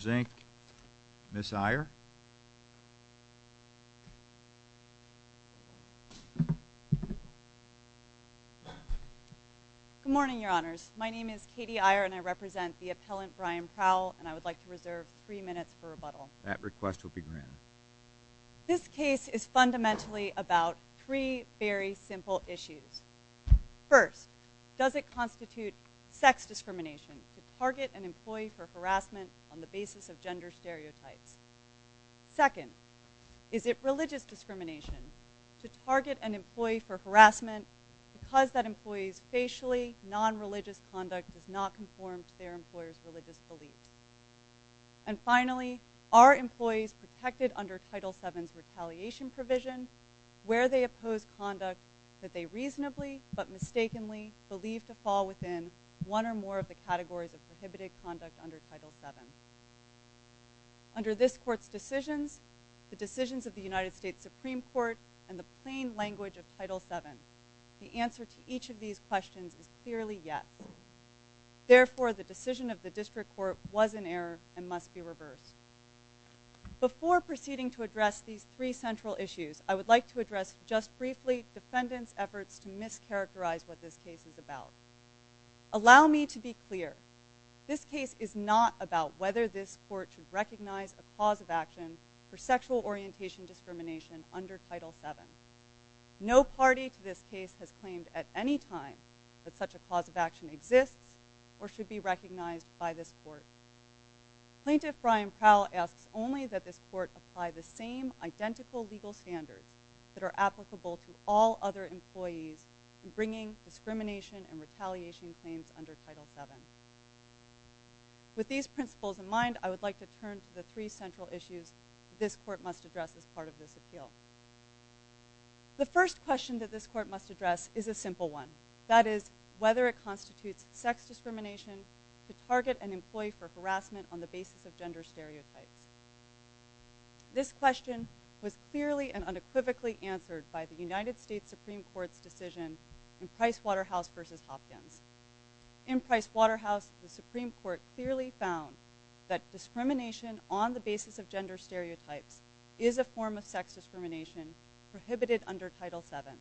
Zink. Ms. Iyer. Good morning, Your Honors. My name is Katie Iyer, and I represent the appellant Brian Prowell, and I would like to reserve three minutes for rebuttal. That request will be granted. This case is fundamentally about three very simple issues. First, does it constitute sex discrimination to target an employee for harassment on the basis of gender stereotypes? Second, is it religious discrimination to target an employee for harassment because that employee's facially nonreligious conduct does not conform to their employer's religious beliefs? And finally, are employees protected under Title VII's retaliation provision where they oppose conduct that they reasonably but mistakenly believe to fall within one or more of the categories of prohibited conduct under Title VII? Under this Court's decisions, the decisions of the United States Supreme Court, and the plain language of Title VII, the answer to each of these questions is clearly yes. Therefore, the decision of the District Court was in error and must be reversed. Before proceeding to address these three central issues, I would like to address just briefly defendants' efforts to mischaracterize what this case is about. Allow me to be clear. This case is not about whether this Court should recognize a cause of action for sexual orientation discrimination under Title VII. No party to this case has claimed at any time that such a cause of action exists or should be recognized by this Court. Plaintiff Brian Prowl asks only that this Court apply the same identical legal standards that are applicable to all other employees in bringing discrimination and retaliation claims under Title VII. With these principles in mind, I would like to turn to the three central issues that this Court must address as part of this appeal. The first question that this Court must address is a simple one. That is, whether it constitutes sex discrimination to target an employee for harassment on the basis of gender stereotypes. This question was clearly and unequivocally answered by the United States Supreme Court's decision in Pricewaterhouse v. Hopkins. In Pricewaterhouse, the Supreme Court clearly found that discrimination on the basis of gender stereotypes is a form of sex discrimination prohibited under Title VII.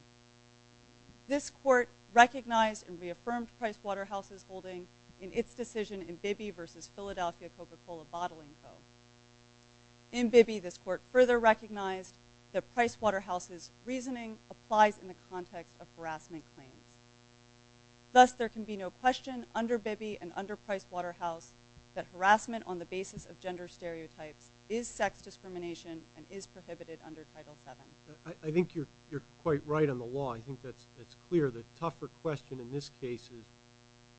This Court recognized and reaffirmed Pricewaterhouse's holding in its decision in Bibby v. Philadelphia Coca-Cola Bottling Co. In Bibby, this Court further recognized that Pricewaterhouse's reasoning applies in the context of harassment claims. Thus, there can be no question under Bibby and under Pricewaterhouse that harassment on the basis of gender stereotypes is sex discrimination and is prohibited under Title VII. I think you're quite right on the law. I think that's clear. The tougher question in this case is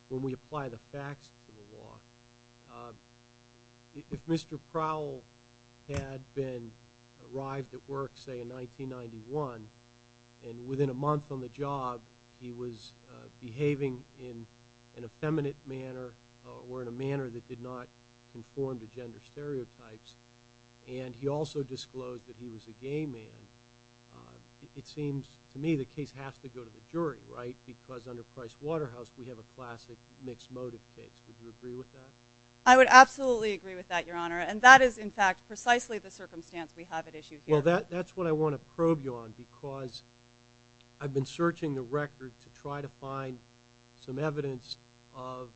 when we apply the facts to the law. If Mr. Prowell had arrived at work, say, in 1991, and within a month on the job, he was behaving in an effeminate manner or in a manner that did not conform to gender stereotypes, and he also disclosed that he was a gay man, it seems to me the case has to go to the jury, right? Because under Pricewaterhouse, we have a classic mixed motive case. Would you agree with that? I would absolutely agree with that, Your Honor. And that is, in fact, precisely the circumstance we have at issue here. Well, that's what I want to probe you on because I've been searching the record to try to find some evidence of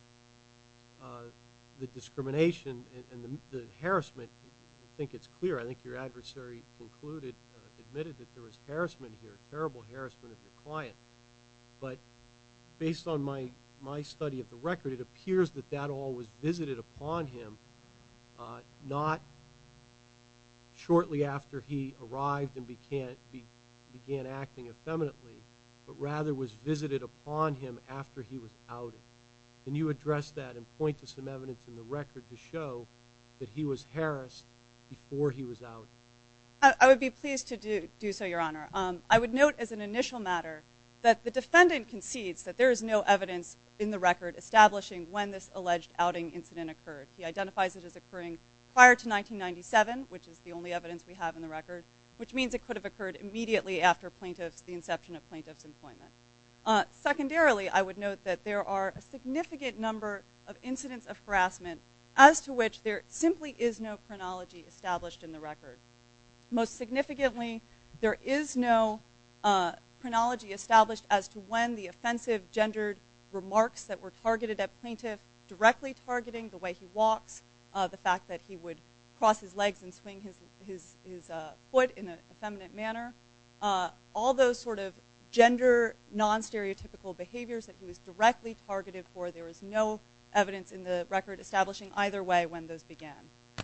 the discrimination and the harassment. I think it's clear. I think your adversary admitted that there was harassment here, terrible harassment of your client. But based on my study of the record, it appears that that all was visited upon him not shortly after he arrived and began acting effeminately, but rather was visited upon him after he was outed. Can you address that and point to some evidence in the record to show that he was harassed before he was outed? I would be pleased to do so, Your Honor. I would note as an initial matter that the defendant concedes that there is no evidence in the record establishing when this alleged outing incident occurred. He identifies it as occurring prior to 1997, which is the only evidence we have in the record, which means it could have occurred immediately after the inception of plaintiff's employment. Secondarily, I would note that there are a significant number of incidents of harassment as to which there simply is no chronology established in the record. Most significantly, there is no chronology established as to when the offensive gendered remarks that were targeted at plaintiff directly targeting the way he walks, the fact that he would cross his legs and swing his foot in an effeminate manner, all those sort of gender non-stereotypical behaviors that he was directly targeted for, there is no evidence in the record establishing either way when those began.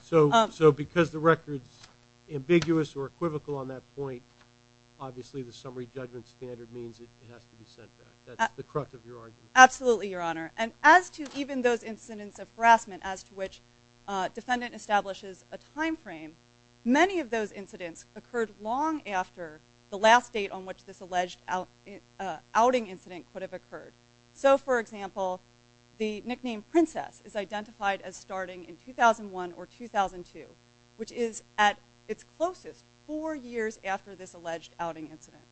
So because the record is ambiguous or equivocal on that point, obviously the summary judgment standard means it has to be sent back. That's the crux of your argument. Absolutely, Your Honor. And as to even those incidents of harassment as to which defendant establishes a time frame, many of those incidents occurred long after the last date on which this alleged outing incident could have occurred. So, for example, the nickname Princess is identified as starting in 2001 or 2002, which is at its closest four years after this alleged outing incident.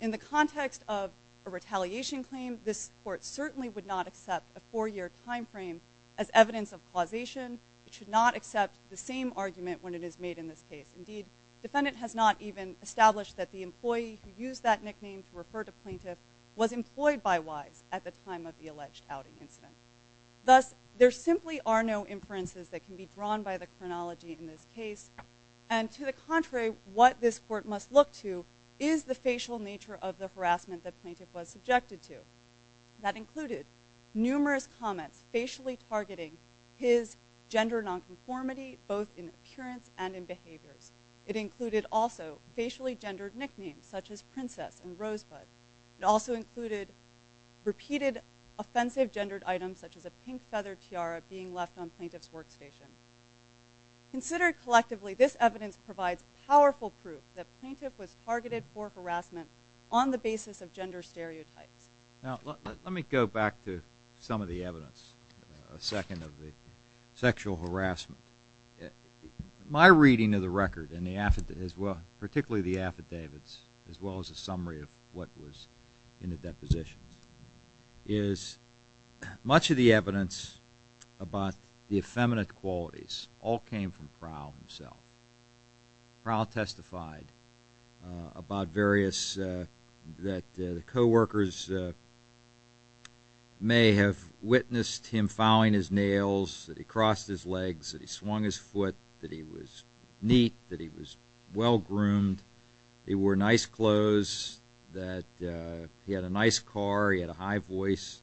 In the context of a retaliation claim, this court certainly would not accept a four-year time frame as evidence of causation. It should not accept the same argument when it is made in this case. Indeed, defendant has not even established that the employee who used that nickname to refer to plaintiff was employed by Wise at the time of the alleged outing incident. Thus, there simply are no inferences that can be drawn by the chronology in this case. And to the contrary, what this court must look to is the facial nature of the harassment that plaintiff was subjected to. That included numerous comments facially targeting his gender nonconformity both in appearance and in behaviors. It included also facially gendered nicknames such as Princess and Rosebud. It also included repeated offensive gendered items such as a pink feather tiara being left on plaintiff's workstation. Considered collectively, this evidence provides powerful proof that plaintiff was targeted for harassment on the basis of gender stereotypes. Now, let me go back to some of the evidence. A second of the sexual harassment. My reading of the record, particularly the affidavits, as well as a summary of what was in the depositions, is much of the evidence about the effeminate qualities all came from Prowl himself. Prowl testified about various, that the co-workers may have witnessed him fouling his nails, that he crossed his legs, that he swung his foot, that he was neat, that he was well-groomed, that he wore nice clothes, that he had a nice car, he had a high voice,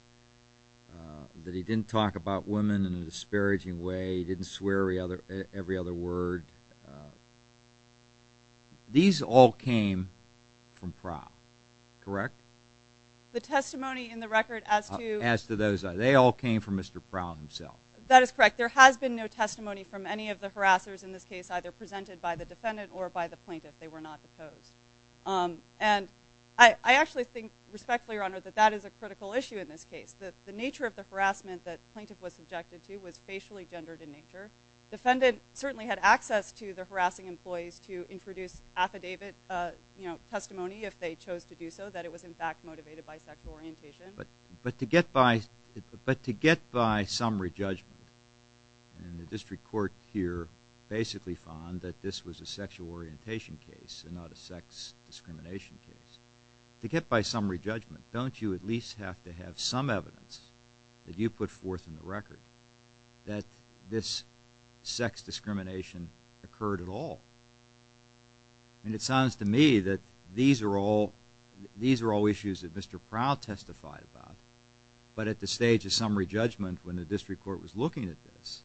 that he didn't talk about women in a disparaging way, he didn't swear every other word. These all came from Prowl, correct? The testimony in the record as to... As to those, they all came from Mr. Prowl himself. That is correct. There has been no testimony from any of the harassers in this case, either presented by the defendant or by the plaintiff. They were not deposed. And I actually think, respectfully, Your Honor, that that is a critical issue in this case. The nature of the harassment that the plaintiff was subjected to was facially gendered in nature. The defendant certainly had access to the harassing employees to introduce affidavit testimony if they chose to do so, that it was in fact motivated by sexual orientation. But to get by summary judgment, and the district court here basically found that this was a sexual orientation case and not a sex discrimination case, to get by summary judgment, don't you at least have to have some evidence that you put forth in the record that this sex discrimination occurred at all? And it sounds to me that these are all issues that Mr. Prowl testified about. But at the stage of summary judgment, when the district court was looking at this,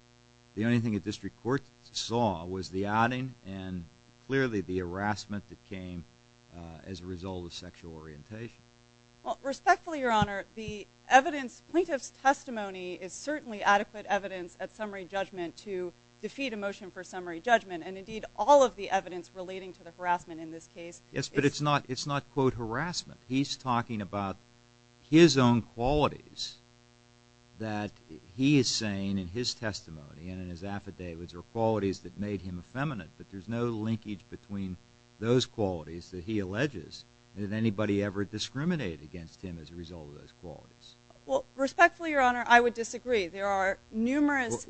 the only thing the district court saw was the outing and clearly the harassment that came as a result of sexual orientation. Well, respectfully, Your Honor, the evidence, plaintiff's testimony, is certainly adequate evidence at summary judgment to defeat a motion for summary judgment. And indeed, all of the evidence relating to the harassment in this case is… Yes, but it's not quote harassment. He's talking about his own qualities that he is saying in his testimony and in his affidavits are qualities that made him effeminate. But there's no linkage between those qualities that he alleges that anybody ever discriminated against him as a result of those qualities. Well, respectfully, Your Honor, I would disagree. There are numerous…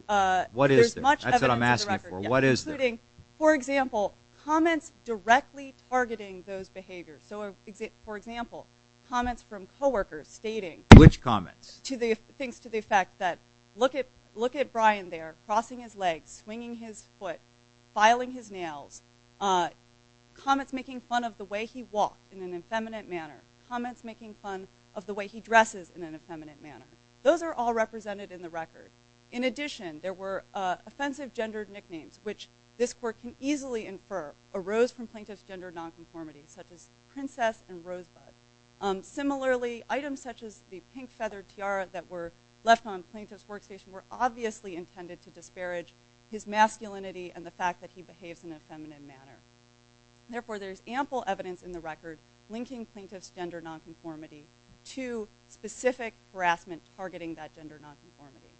What is there? That's what I'm asking for. What is there? Including, for example, comments directly targeting those behaviors. So, for example, comments from coworkers stating… Which comments? Things to the effect that, look at Brian there crossing his legs, swinging his foot, filing his nails, comments making fun of the way he walked in an effeminate manner, comments making fun of the way he dresses in an effeminate manner. Those are all represented in the record. In addition, there were offensive gendered nicknames which this court can easily infer arose from plaintiff's gender nonconformity such as Princess and Rosebud. Similarly, items such as the pink feathered tiara that were left on plaintiff's workstation were obviously intended to disparage his masculinity and the fact that he behaves in an effeminate manner. Therefore, there's ample evidence in the record linking plaintiff's gender nonconformity to specific harassment targeting that gender nonconformity.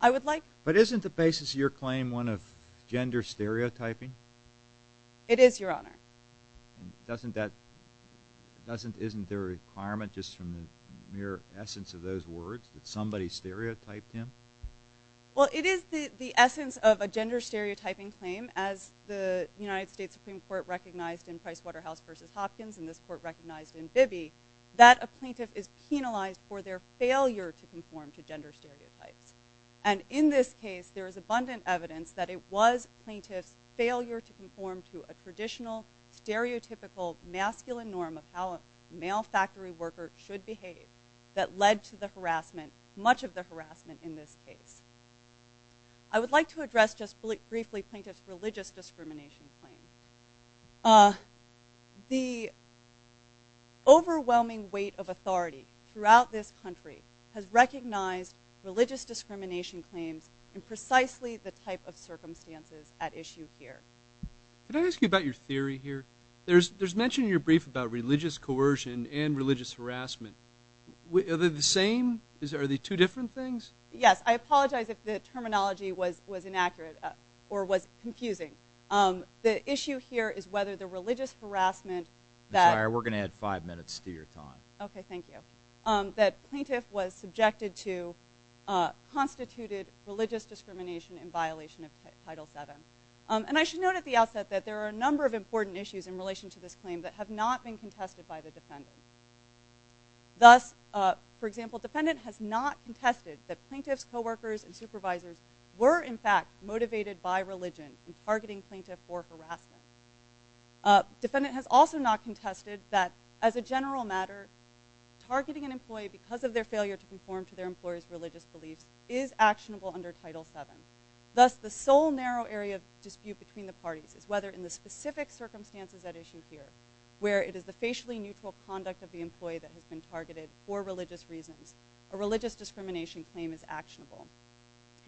I would like… But isn't the basis of your claim one of gender stereotyping? It is, Your Honor. Doesn't that… Isn't there a requirement just from the mere essence of those words that somebody stereotyped him? Well, it is the essence of a gender stereotyping claim as the United States Supreme Court recognized in Pricewaterhouse v. Hopkins and this court recognized in Bibby that a plaintiff is penalized for their failure to conform to gender stereotypes. And in this case, there is abundant evidence that it was plaintiff's failure to conform to a traditional stereotypical masculine norm of how a male factory worker should behave that led to the harassment, much of the harassment in this case. I would like to address just briefly plaintiff's religious discrimination claim. The overwhelming weight of authority throughout this country has recognized religious discrimination claims in precisely the type of circumstances at issue here. Can I ask you about your theory here? There's mention in your brief about religious coercion and religious harassment. Are they the same? Are they two different things? Yes. I apologize if the terminology was inaccurate or was confusing. The issue here is whether the religious harassment that- I'm sorry, we're going to add five minutes to your time. Okay, thank you. That plaintiff was subjected to constituted religious discrimination in violation of Title VII. And I should note at the outset that there are a number of important issues in relation to this claim that have not been contested by the defendant. Thus, for example, defendant has not contested that plaintiff's coworkers and supervisors were in fact motivated by religion in targeting plaintiff for harassment. Defendant has also not contested that as a general matter targeting an employee because of their failure to conform to their employer's religious beliefs is actionable under Title VII. Thus, the sole narrow area of dispute between the parties is whether in the specific circumstances at issue here where it is the facially neutral conduct of the employee that has been targeted for religious reasons a religious discrimination claim is actionable.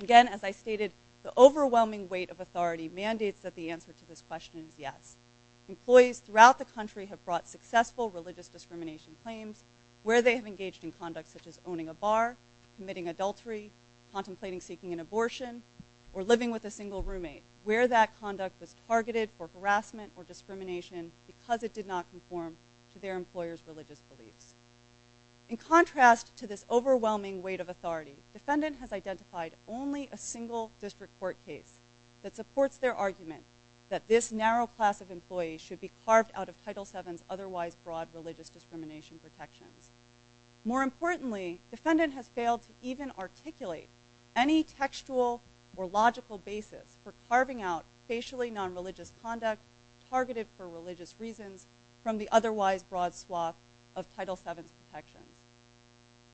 Again, as I stated, the overwhelming weight of authority mandates that the answer to this question is yes. Employees throughout the country have brought successful religious discrimination claims where they have engaged in conduct such as owning a bar, committing adultery, contemplating seeking an abortion, or living with a single roommate where that conduct was targeted for harassment or discrimination because it did not conform to their employer's religious beliefs. In contrast to this overwhelming weight of authority, defendant has identified only a single district court case that supports their argument that this narrow class of employees should be carved out of Title VII's otherwise broad religious discrimination protections. More importantly, defendant has failed to even articulate any textual or logical basis for carving out facially non-religious conduct targeted for religious reasons from the otherwise broad swath of Title VII's protections.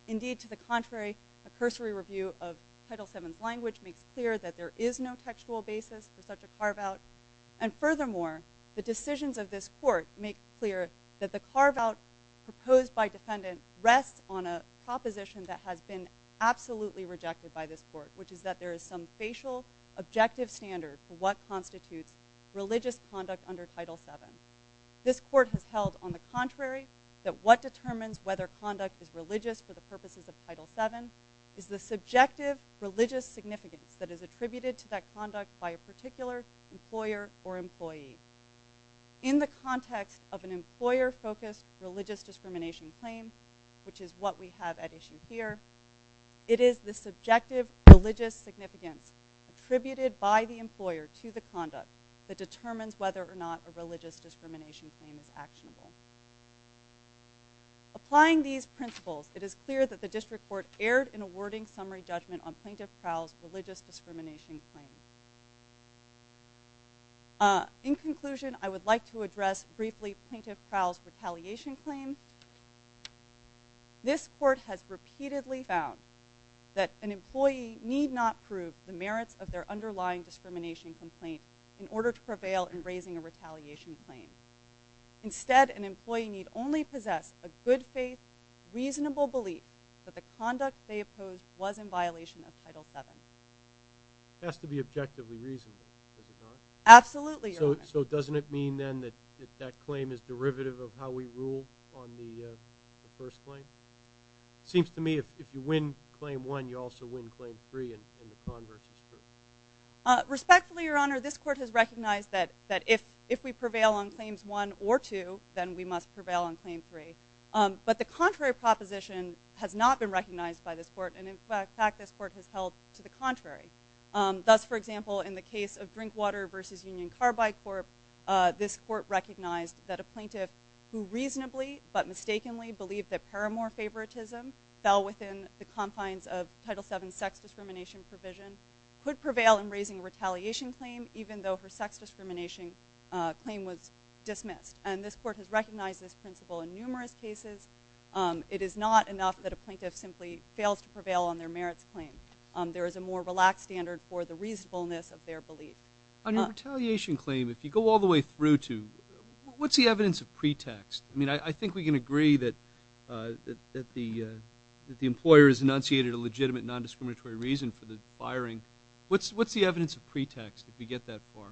Indeed, to the contrary, a cursory review of Title VII's language makes clear that there is no textual basis for such a carve-out. And furthermore, the decisions of this court make clear that the carve-out proposed by defendant rests on a proposition that has been absolutely rejected by this court, which is that there is some facial, objective standard for what constitutes religious conduct under Title VII. This court has held, on the contrary, that what determines whether conduct is religious for the purposes of Title VII is the subjective religious significance that is attributed to that conduct by a particular employer or employee. In the context of an employer-focused religious discrimination claim, which is what we have at issue here, it is the subjective religious significance attributed by the employer to the conduct that determines whether or not a religious discrimination claim is actionable. Applying these principles, it is clear that the District Court erred in awarding summary judgment on Plaintiff Prowell's religious discrimination claim. In conclusion, I would like to address briefly Plaintiff Prowell's retaliation claim. This court has repeatedly found that an employee need not prove the merits of their underlying discrimination complaint in order to prevail in raising a retaliation claim. Instead, an employee need only possess a good faith, reasonable belief that the conduct they opposed was in violation of Title VII. It has to be objectively reasonable, does it not? Absolutely, Your Honor. So doesn't it mean then that that claim is derivative of how we rule on the first claim? It seems to me if you win Claim 1, you also win Claim 3, and the converse is true. Respectfully, Your Honor, this court has recognized that if we prevail on Claims 1 or 2, then we must prevail on Claim 3. But the contrary proposition has not been recognized by this court, and, in fact, this court has held to the contrary. Thus, for example, in the case of Drinkwater v. Union Carbide Corp., this court recognized that a plaintiff who reasonably but mistakenly believed that paramour favoritism fell within the confines of Title VII sex discrimination provision could prevail in raising a retaliation claim even though her sex discrimination claim was dismissed. And this court has recognized this principle in numerous cases. It is not enough that a plaintiff simply fails to prevail on their merits claim. There is a more relaxed standard for the reasonableness of their belief. On your retaliation claim, if you go all the way through to, what's the evidence of pretext? I mean, I think we can agree that the employer has enunciated a legitimate nondiscriminatory reason for the firing. What's the evidence of pretext if we get that far?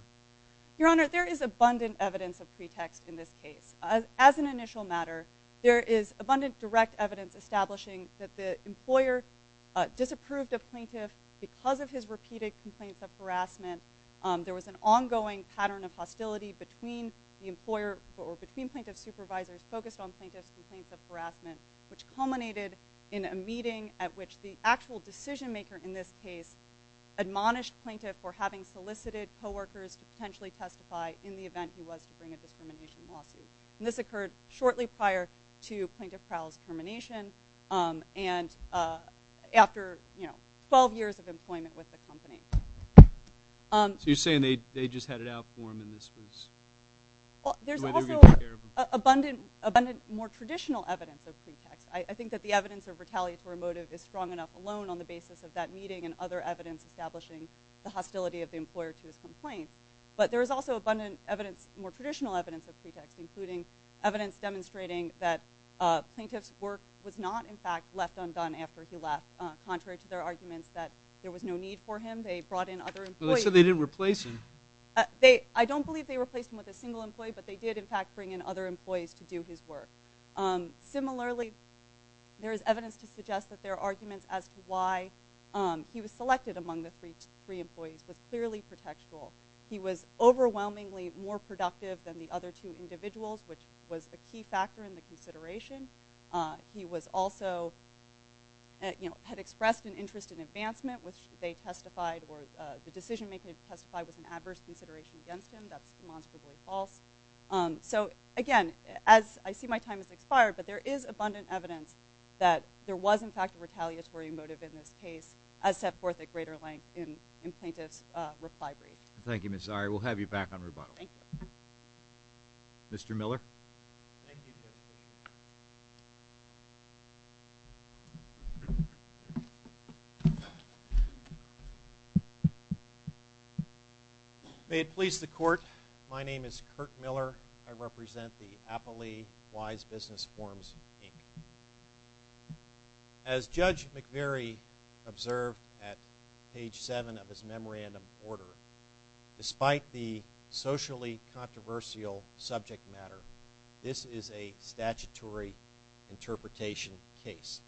Your Honor, there is abundant evidence of pretext in this case. As an initial matter, there is abundant direct evidence establishing that the employer disapproved of plaintiff because of his repeated complaints of harassment. There was an ongoing pattern of hostility between the employer or between plaintiff's supervisors focused on plaintiff's complaints of harassment, which culminated in a meeting at which the actual decision maker in this case admonished plaintiff for having solicited coworkers to potentially testify in the event he was to bring a discrimination lawsuit. And this occurred shortly prior to plaintiff Crowell's termination and after 12 years of employment with the company. So you're saying they just had it out for him and this was the way they were going to take care of him? There is abundant more traditional evidence of pretext. I think that the evidence of retaliatory motive is strong enough alone on the basis of that meeting and other evidence establishing the hostility of the employer to his complaint. But there is also abundant more traditional evidence of pretext, including evidence demonstrating that plaintiff's work was not, in fact, left undone after he left. Contrary to their arguments that there was no need for him, they brought in other employees. They said they didn't replace him. I don't believe they replaced him with a single employee, but they did, in fact, bring in other employees to do his work. Similarly, there is evidence to suggest that their arguments as to why he was selected among the three employees was clearly pretextual. He was overwhelmingly more productive than the other two individuals, which was a key factor in the consideration. He also had expressed an interest in advancement, which they testified or the decision-makers testified was an adverse consideration against him. That's demonstrably false. So, again, as I see my time has expired, but there is abundant evidence that there was, in fact, a retaliatory motive in this case, as set forth at greater length in Plaintiff's reply brief. Thank you, Ms. Zari. We'll have you back on rebuttal. Thank you. Mr. Miller. Thank you, Judge. May it please the Court. My name is Kirk Miller. I represent the Appley Wise Business Forms, Inc. As Judge McVeary observed at page 7 of his memorandum order, despite the socially controversial subject matter, this is a statutory interpretation case.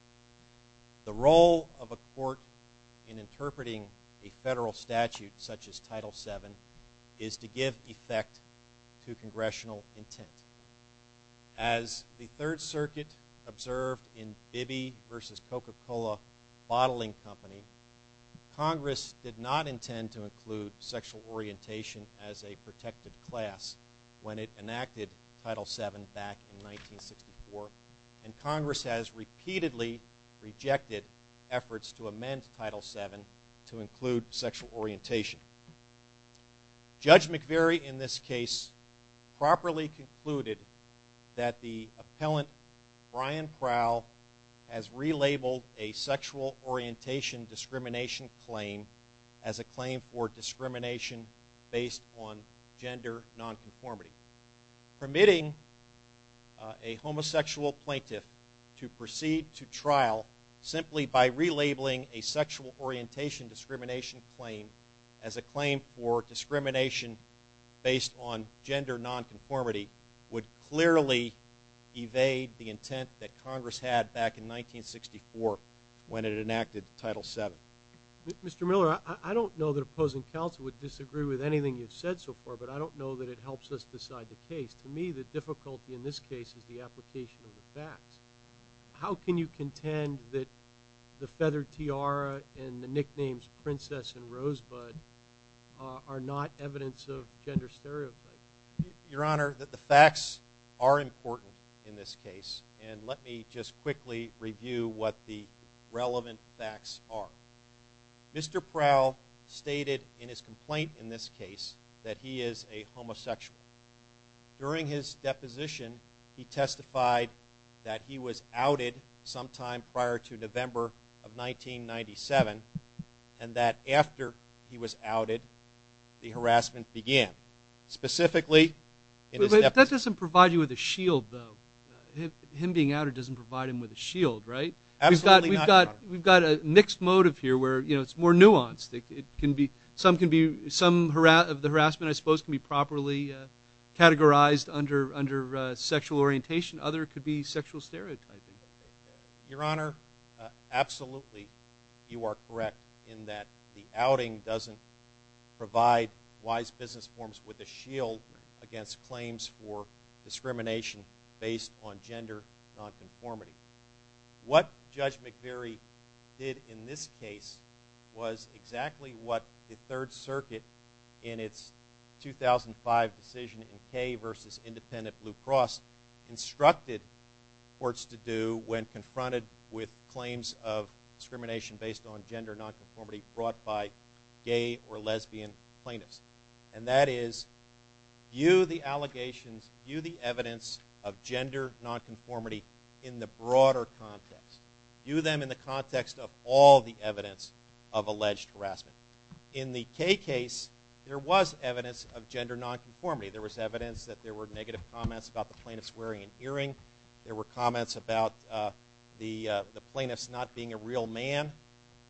The role of a court in interpreting a federal statute such as Title VII is to give effect to congressional intent. As the Third Circuit observed in Bibby v. Coca-Cola Bottling Company, Congress did not intend to include sexual orientation as a protected class when it enacted Title VII back in 1964, and Congress has repeatedly rejected efforts to amend Title VII to include sexual orientation. Judge McVeary in this case properly concluded that the appellant, Brian Crowell, has relabeled a sexual orientation discrimination claim as a claim for discrimination based on gender nonconformity, permitting a homosexual plaintiff to proceed to trial simply by relabeling a sexual orientation discrimination claim as a claim for discrimination based on gender nonconformity would clearly evade the intent that Congress had back in 1964 when it enacted Title VII. Mr. Miller, I don't know that opposing counsel would disagree with anything you've said so far, but I don't know that it helps us decide the case. To me, the difficulty in this case is the application of the facts. How can you contend that the feather tiara and the nicknames Princess and Rosebud are not evidence of gender stereotypes? Your Honor, the facts are important in this case, and let me just quickly review what the relevant facts are. Mr. Crowell stated in his complaint in this case that he is a homosexual. During his deposition, he testified that he was outed sometime prior to November of 1997 and that after he was outed, the harassment began. Specifically, in his deposition. But that doesn't provide you with a shield, though. Him being outed doesn't provide him with a shield, right? Absolutely not, Your Honor. We've got a mixed motive here where it's more nuanced. Some of the harassment, I suppose, can be properly categorized under sexual orientation. Others could be sexual stereotyping. Your Honor, absolutely you are correct in that the outing doesn't provide wise business forms with a shield against claims for discrimination based on gender nonconformity. What Judge McVeary did in this case was exactly what the Third Circuit in its 2005 decision in Kay v. Independent Blue Cross instructed courts to do when confronted with claims of discrimination based on gender nonconformity brought by gay or lesbian plaintiffs. And that is view the allegations, view the evidence of gender nonconformity in the broader context. View them in the context of all the evidence of alleged harassment. In the Kay case, there was evidence of gender nonconformity. There was evidence that there were negative comments about the plaintiffs wearing an earring. There were comments about the plaintiffs not being a real man.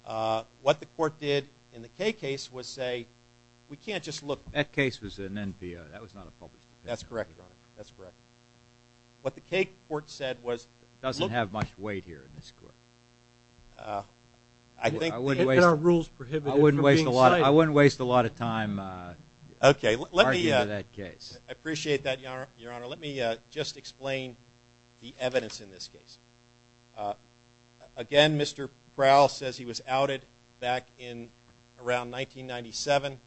What the court did in the Kay case was say, we can't just look. That case was an NPO. That was not a public opinion. That's correct, Your Honor. That's correct. What the Kay court said was look. It doesn't have much weight here in this court. I think the NPR rules prohibit it from being cited. I wouldn't waste a lot of time arguing that case. I appreciate that, Your Honor. Let me just explain the evidence in this case. Again, Mr. Prowl says he was outed back in around 1997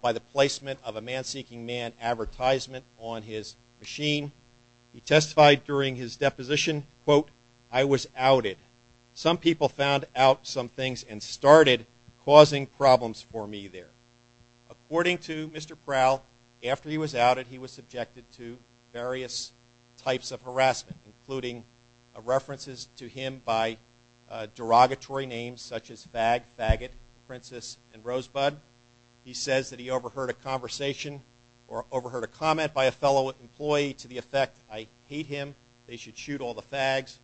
by the placement of a man-seeking man advertisement on his machine. He testified during his deposition, quote, I was outed. Some people found out some things and started causing problems for me there. According to Mr. Prowl, after he was outed, he was subjected to various types of harassment, including references to him by derogatory names such as fag, faggot, princess, and rosebud. He says that he overheard a conversation or overheard a comment by a fellow employee to the effect, I hate him. They should shoot all the fags.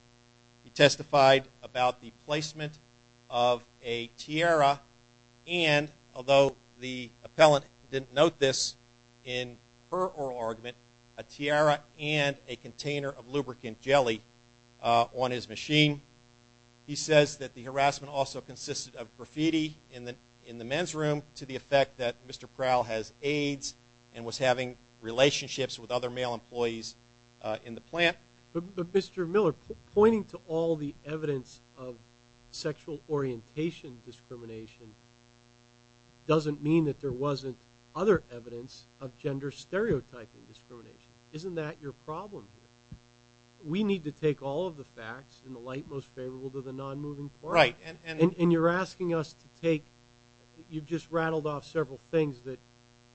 He testified about the placement of a tiara and, although the appellant didn't note this in her oral argument, a tiara and a container of lubricant jelly on his machine. He says that the harassment also consisted of graffiti in the men's room to the effect that Mr. Prowl has AIDS and was having relationships with other male employees in the plant. But, Mr. Miller, pointing to all the evidence of sexual orientation discrimination doesn't mean that there wasn't other evidence of gender stereotyping discrimination. Isn't that your problem here? We need to take all of the facts in the light most favorable to the non-moving part. And you're asking us to take, you've just rattled off several things that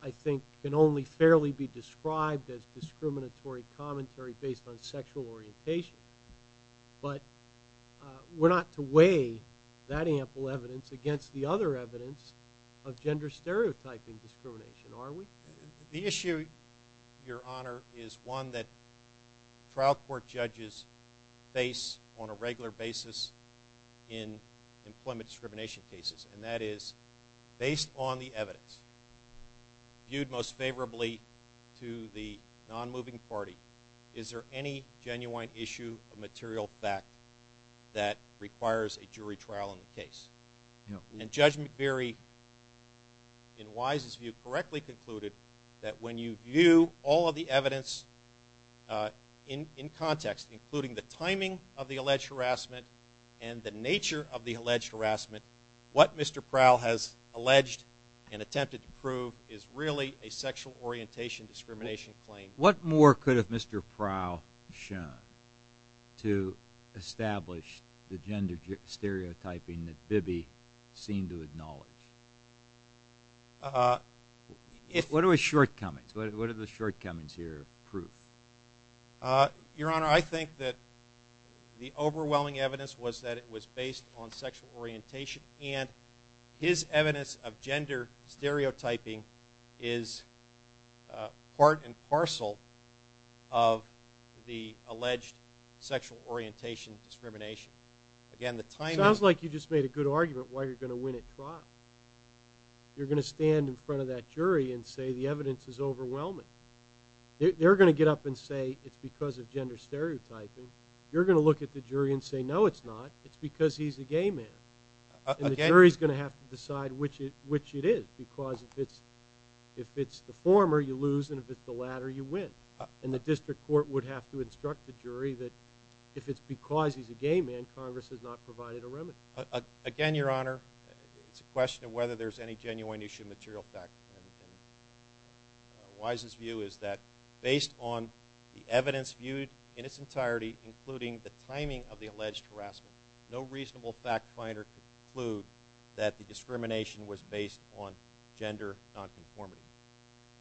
I think can only fairly be described as discriminatory commentary based on sexual orientation. But we're not to weigh that ample evidence against the other evidence of gender stereotyping discrimination, are we? The issue, Your Honor, is one that trial court judges face on a regular basis in employment discrimination cases. And that is, based on the evidence viewed most favorably to the non-moving party, is there any genuine issue of material fact that requires a jury trial in the case? No. And Judge McBury, in Wise's view, correctly concluded that when you view all of the evidence in context, including the timing of the alleged harassment and the nature of the alleged harassment, what Mr. Prowl has alleged and attempted to prove is really a sexual orientation discrimination claim. What more could have Mr. Prowl shown to establish the gender stereotyping that Bibby seemed to acknowledge? What are his shortcomings? What do the shortcomings here prove? Your Honor, I think that the overwhelming evidence was that it was based on sexual orientation. And his evidence of gender stereotyping is part and parcel of the alleged sexual orientation discrimination. Sounds like you just made a good argument why you're going to win at trial. You're going to stand in front of that jury and say the evidence is overwhelming. They're going to get up and say it's because of gender stereotyping. You're going to look at the jury and say, no, it's not. It's because he's a gay man. And the jury is going to have to decide which it is because if it's the former, you lose, and if it's the latter, you win. And the district court would have to instruct the jury that if it's because he's a gay man, Congress has not provided a remedy. Again, Your Honor, it's a question of whether there's any genuine issue of material fact. Wise's view is that based on the evidence viewed in its entirety, including the timing of the alleged harassment, no reasonable fact finder could conclude that the discrimination was based on gender nonconformity.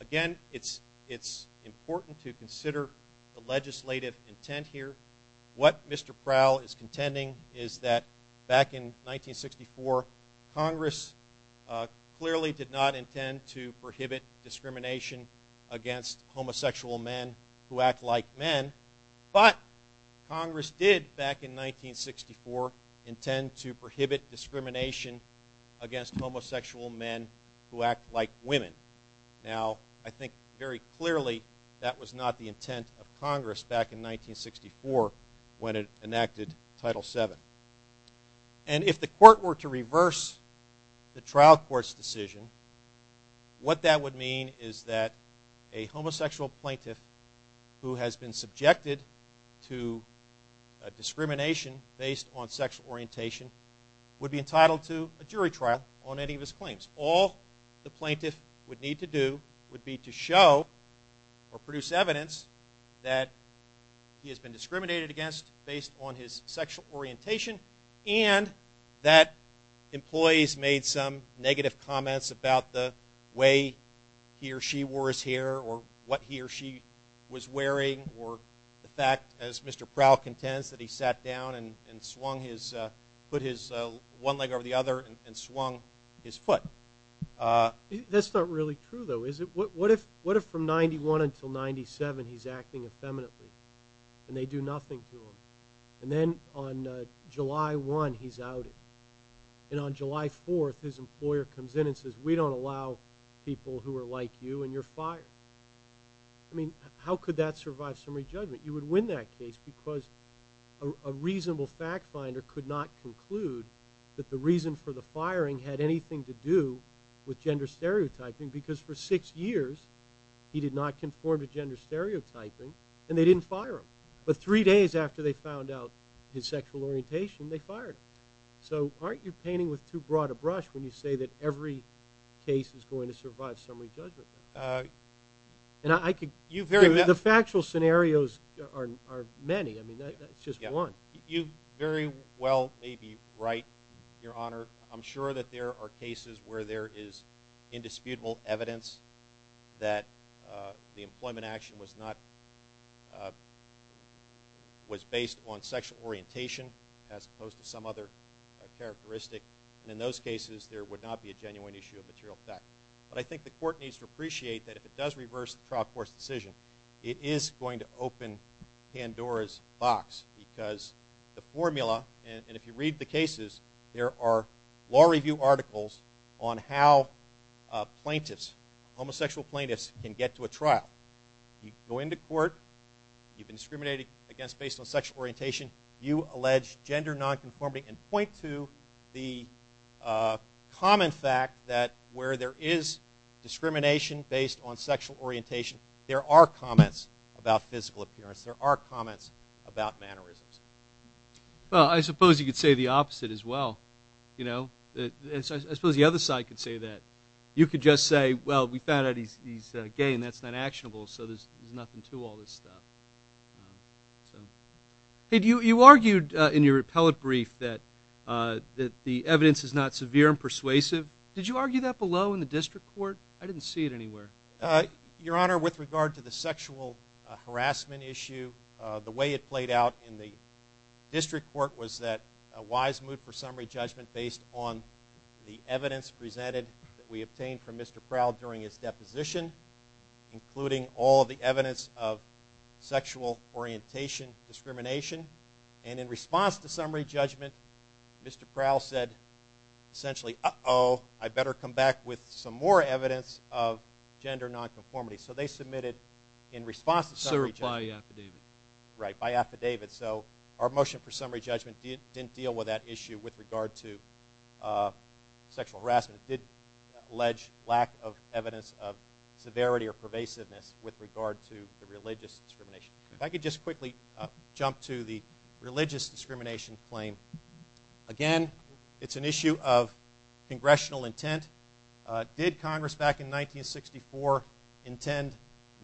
Again, it's important to consider the legislative intent here. What Mr. Prowl is contending is that back in 1964, Congress clearly did not intend to prohibit discrimination against homosexual men who act like men, but Congress did back in 1964 intend to prohibit discrimination against homosexual men who act like women. Now, I think very clearly that was not the intent of Congress back in 1964 when it enacted Title VII. And if the court were to reverse the trial court's decision, what that would mean is that a homosexual plaintiff who has been subjected to discrimination based on sexual orientation would be entitled to a jury trial on any of his claims. All the plaintiff would need to do would be to show or produce evidence that he has been discriminated against based on his sexual orientation and that employees made some negative comments about the way he or she wore his hair or what he or she was wearing or the fact, as Mr. Prowl contends, that he sat down and put his one leg over the other and swung his foot. That's not really true, though, is it? What if from 91 until 97 he's acting effeminately and they do nothing to him? And then on July 1, he's outed. And on July 4, his employer comes in and says, we don't allow people who are like you and you're fired. I mean, how could that survive summary judgment? You would win that case because a reasonable fact finder could not conclude that the reason for the firing had anything to do with gender stereotyping because for six years he did not conform to gender stereotyping and they didn't fire him. But three days after they found out his sexual orientation, they fired him. So aren't you painting with too broad a brush when you say that every case is going to survive summary judgment? The factual scenarios are many. I mean, that's just one. You very well may be right, Your Honor. I'm sure that there are cases where there is indisputable evidence that the employment action was based on sexual orientation as opposed to some other characteristic. And in those cases, there would not be a genuine issue of material fact. But I think the court needs to appreciate that if it does reverse the trial court's decision, it is going to open Pandora's box because the formula, and if you read the cases, there are law review articles on how plaintiffs, homosexual plaintiffs, can get to a trial. You go into court. You've been discriminated against based on sexual orientation. You allege gender nonconformity and point to the common fact that where there is discrimination based on sexual orientation, there are comments about physical appearance. There are comments about mannerisms. Well, I suppose you could say the opposite as well. I suppose the other side could say that. You could just say, well, we found out he's gay and that's not actionable, so there's nothing to all this stuff. You argued in your appellate brief that the evidence is not severe and persuasive. Did you argue that below in the district court? I didn't see it anywhere. Your Honor, with regard to the sexual harassment issue, the way it played out in the district court was that a wise move for summary judgment based on the evidence presented that we obtained from Mr. Proud during his deposition, including all of the evidence of sexual orientation discrimination. And in response to summary judgment, Mr. Proud said essentially, uh-oh, I better come back with some more evidence of gender nonconformity. So they submitted in response to summary judgment. So by affidavit. Right, by affidavit. So our motion for summary judgment didn't deal with that issue with regard to sexual harassment. It did allege lack of evidence of severity or pervasiveness with regard to the religious discrimination. If I could just quickly jump to the religious discrimination claim. Again, it's an issue of congressional intent. Did Congress back in 1964 intend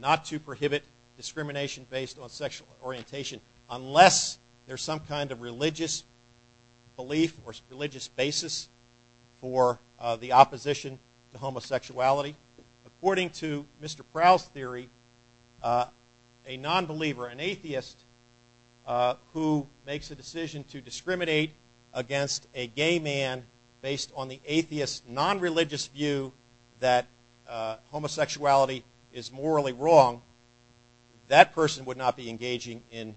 not to prohibit discrimination based on sexual orientation unless there's some kind of religious belief or religious basis for the opposition to homosexuality? According to Mr. Proud's theory, a nonbeliever, an atheist who makes a decision to discriminate against a gay man based on the atheist nonreligious view that homosexuality is morally wrong, that person would not be engaging in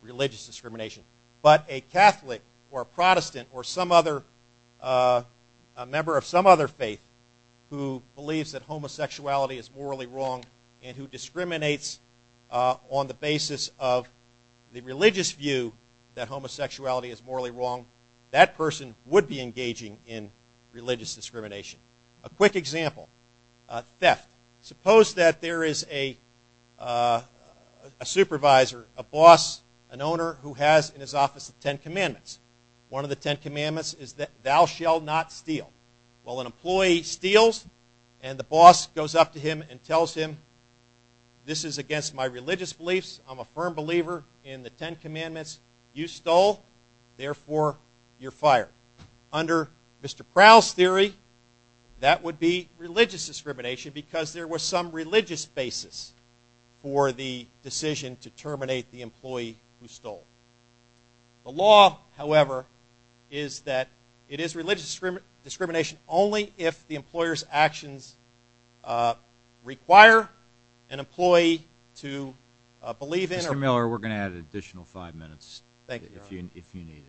religious discrimination. But a Catholic or a Protestant or a member of some other faith who believes that homosexuality is morally wrong and who discriminates on the basis of the religious view that homosexuality is morally wrong, that person would be engaging in religious discrimination. A quick example, theft. Suppose that there is a supervisor, a boss, an owner who has in his office the Ten Commandments. One of the Ten Commandments is that thou shall not steal. Well, an employee steals and the boss goes up to him and tells him this is against my religious beliefs. I'm a firm believer in the Ten Commandments. You stole, therefore you're fired. Under Mr. Proud's theory, that would be religious discrimination because there was some religious basis for the decision to terminate the employee who stole. The law, however, is that it is religious discrimination only if the employer's actions require an employee to believe in. Mr. Miller, we're going to add an additional five minutes if you need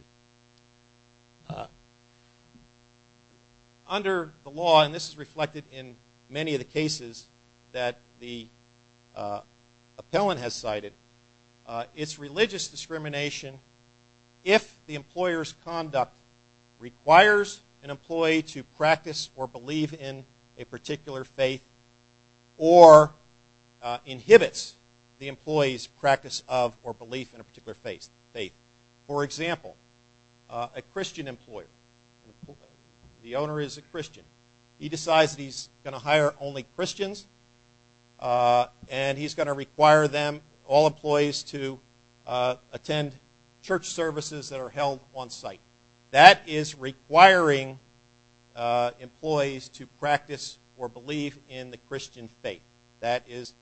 it. Under the law, and this is reflected in many of the cases that the appellant has cited, it's religious discrimination if the employer's conduct requires an employee to practice or believe in a particular faith or inhibits the employee's practice of or belief in a particular faith. For example, a Christian employer, the owner is a Christian. He decides that he's going to hire only Christians and he's going to require them, all employees, to attend church services that are held on site. That is requiring employees to practice or believe in the Christian faith. That is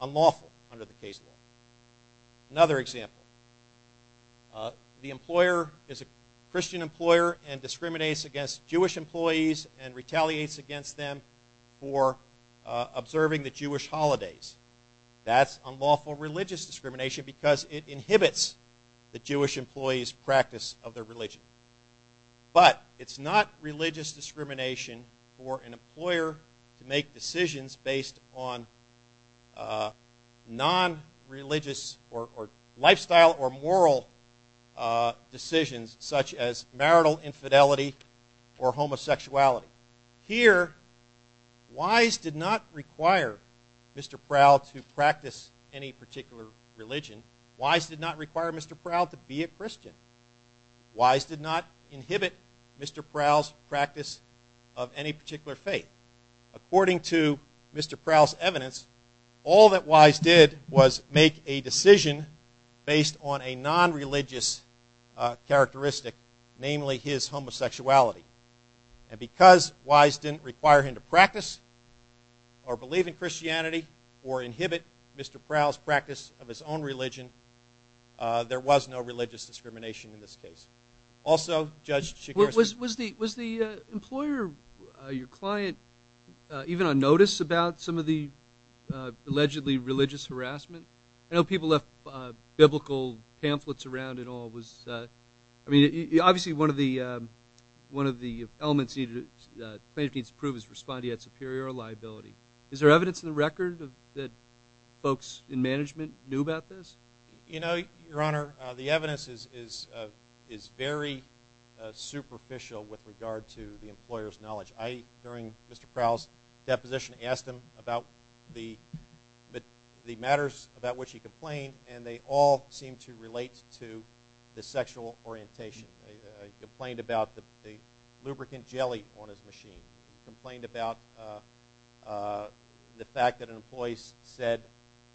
unlawful under the case law. Another example, the employer is a Christian employer and discriminates against Jewish employees and retaliates against them for observing the Jewish holidays. That's unlawful religious discrimination because it inhibits the Jewish employee's practice of their religion. But it's not religious discrimination for an employer to make decisions based on non-religious or lifestyle or moral decisions such as marital infidelity or homosexuality. Here, Wise did not require Mr. Prowl to practice any particular religion. Wise did not require Mr. Prowl to be a Christian. Wise did not inhibit Mr. Prowl's practice of any particular faith. According to Mr. Prowl's evidence, all that Wise did was make a decision based on a non-religious characteristic, namely his homosexuality. And because Wise didn't require him to practice or believe in Christianity or inhibit Mr. Prowl's practice of his own religion, there was no religious discrimination in this case. Also, Judge Shigeru- Was the employer, your client, even on notice about some of the allegedly religious harassment? I know people left biblical pamphlets around and all. Obviously, one of the elements the plaintiff needs to prove is responding to superior liability. Is there evidence in the record that folks in management knew about this? Your Honor, the evidence is very superficial with regard to the employer's knowledge. During Mr. Prowl's deposition, I asked him about the matters about which he complained, and they all seemed to relate to the sexual orientation. He complained about the lubricant jelly on his machine. He complained about the fact that an employee said,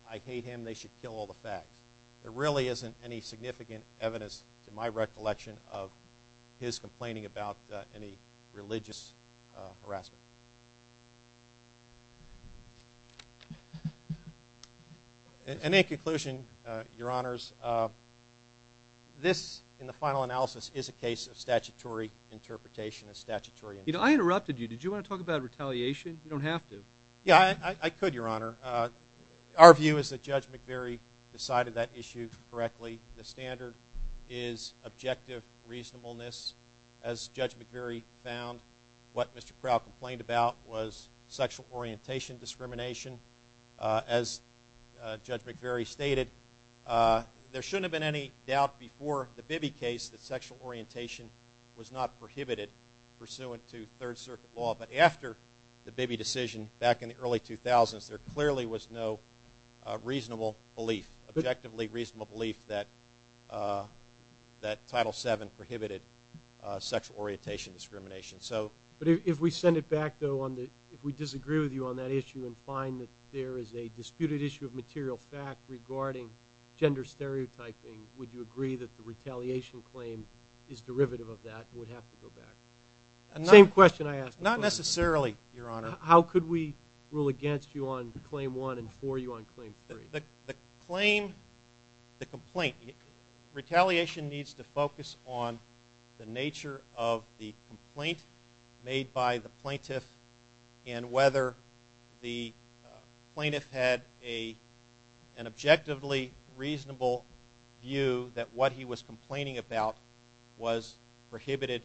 I hate him, they should kill all the fags. There really isn't any significant evidence, to my recollection, of his complaining about any religious harassment. Any conclusion, Your Honors? This, in the final analysis, is a case of statutory interpretation. I interrupted you. Did you want to talk about retaliation? You don't have to. Yeah, I could, Your Honor. Our view is that Judge McVeary decided that issue correctly. The standard is objective reasonableness. As Judge McVeary found what Mr. Prowl complained about, was sexual orientation discrimination. As Judge McVeary stated, there shouldn't have been any doubt before the Bibby case that sexual orientation was not prohibited pursuant to Third Circuit law. But after the Bibby decision back in the early 2000s, there clearly was no reasonable belief, objectively reasonable belief, that Title VII prohibited sexual orientation discrimination. But if we send it back, though, if we disagree with you on that issue and find that there is a disputed issue of material fact regarding gender stereotyping, would you agree that the retaliation claim is derivative of that and would have to go back? Same question I asked. Not necessarily, Your Honor. How could we rule against you on Claim 1 and for you on Claim 3? The complaint, retaliation needs to focus on the nature of the complaint made by the plaintiff and whether the plaintiff had an objectively reasonable view that what he was complaining about was prohibited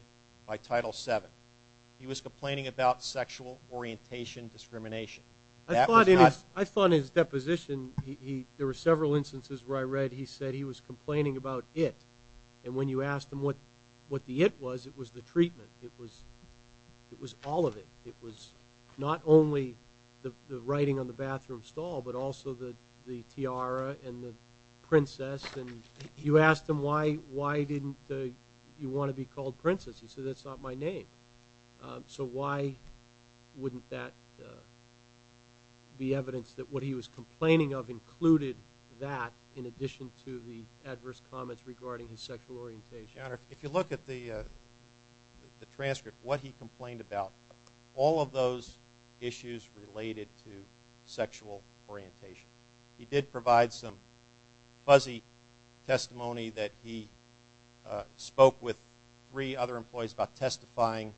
by Title VII. He was complaining about sexual orientation discrimination. I thought in his deposition, there were several instances where I read he said he was complaining about it, and when you asked him what the it was, it was the treatment. It was all of it. It was not only the writing on the bathroom stall, but also the tiara and the princess. And you asked him why didn't you want to be called princess. He said, that's not my name. So why wouldn't that be evidence that what he was complaining of included that in addition to the adverse comments regarding his sexual orientation? Your Honor, if you look at the transcript, what he complained about, all of those issues related to sexual orientation. He did provide some fuzzy testimony that he spoke with three other employees about testifying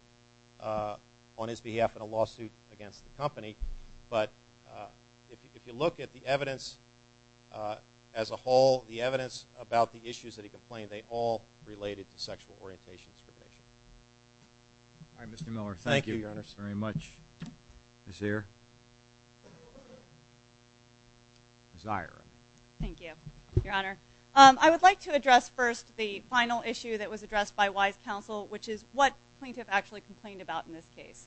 on his behalf in a lawsuit against the company. But if you look at the evidence as a whole, the evidence about the issues that he complained, they all related to sexual orientation discrimination. All right, Mr. Miller. Thank you, Your Honor. Thank you very much. Ms. Zier. Thank you, Your Honor. I would like to address first the final issue that was addressed by Wise Counsel, which is what plaintiff actually complained about in this case.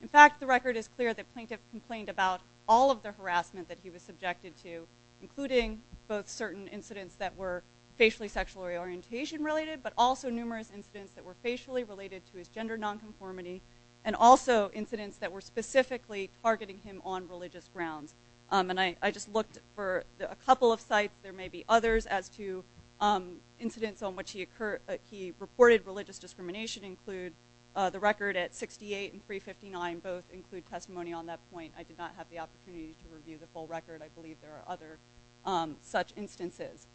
In fact, the record is clear that plaintiff complained about all of the harassment that he was subjected to, including both certain incidents that were facially sexual orientation related, but also numerous incidents that were facially related to his gender nonconformity and also incidents that were specifically targeting him on religious grounds. And I just looked for a couple of sites. There may be others as to incidents on which he reported religious discrimination include the record at 68 and 359 both include testimony on that point. I did not have the opportunity to review the full record. I believe there are other such instances.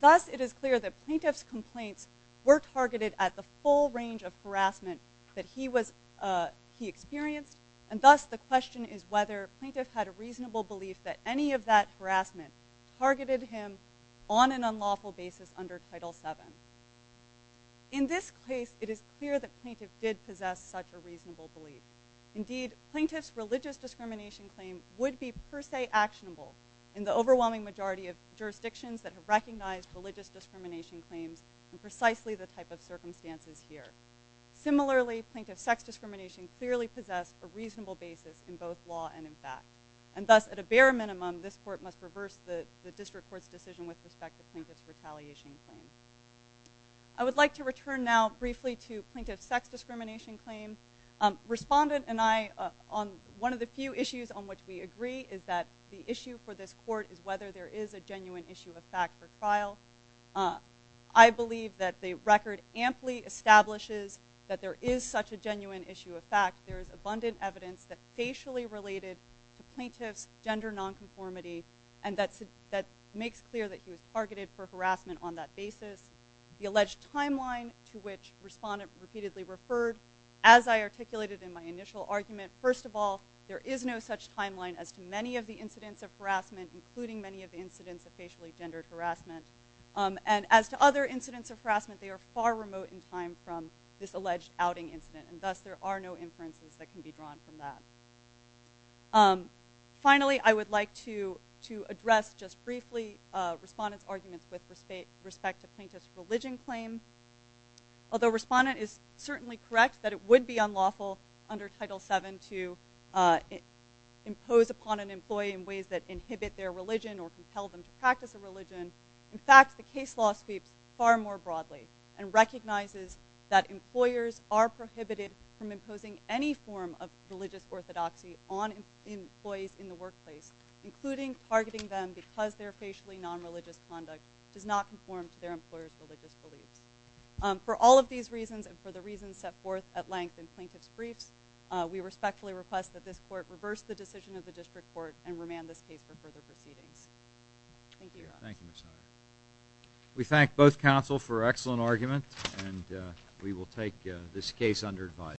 Thus, it is clear that plaintiff's complaints were targeted at the full range of harassment that he experienced, and thus the question is whether plaintiff had a reasonable belief that any of that harassment targeted him on an unlawful basis under Title VII. In this case, it is clear that plaintiff did possess such a reasonable belief. Indeed, plaintiff's religious discrimination claim would be per se actionable in the overwhelming majority of jurisdictions that have recognized religious discrimination claims in precisely the type of circumstances here. Similarly, plaintiff's sex discrimination clearly possessed a reasonable basis in both law and in fact. And thus, at a bare minimum, this court must reverse the district court's decision with respect to plaintiff's retaliation claim. I would like to return now briefly to plaintiff's sex discrimination claim. Respondent and I, one of the few issues on which we agree is that the issue for this court is whether there is a genuine issue of fact for trial. I believe that the record amply establishes that there is such a genuine issue of fact. There is abundant evidence that is facially related to plaintiff's gender nonconformity and that makes clear that he was targeted for harassment on that basis. The alleged timeline to which respondent repeatedly referred, as I articulated in my initial argument, first of all, there is no such timeline as to many of the incidents of harassment, including many of the incidents of facially gendered harassment. And as to other incidents of harassment, they are far remote in time from this alleged outing incident. And thus, there are no inferences that can be drawn from that. Finally, I would like to address, just briefly, respondent's arguments with respect to plaintiff's religion claim. Although respondent is certainly correct that it would be unlawful under Title VII to impose upon an employee in ways that inhibit their religion or compel them to practice a religion, in fact, the case law speaks far more broadly and recognizes that employers are prohibited from imposing any form of religious orthodoxy on employees in the workplace, including targeting them because their facially nonreligious conduct does not conform to their employer's religious beliefs. For all of these reasons and for the reasons set forth at length in plaintiff's briefs, we respectfully request that this Court reverse the decision of the District Court Thank you, Your Honor. We thank both counsel for excellent argument. And we will take this case under advice.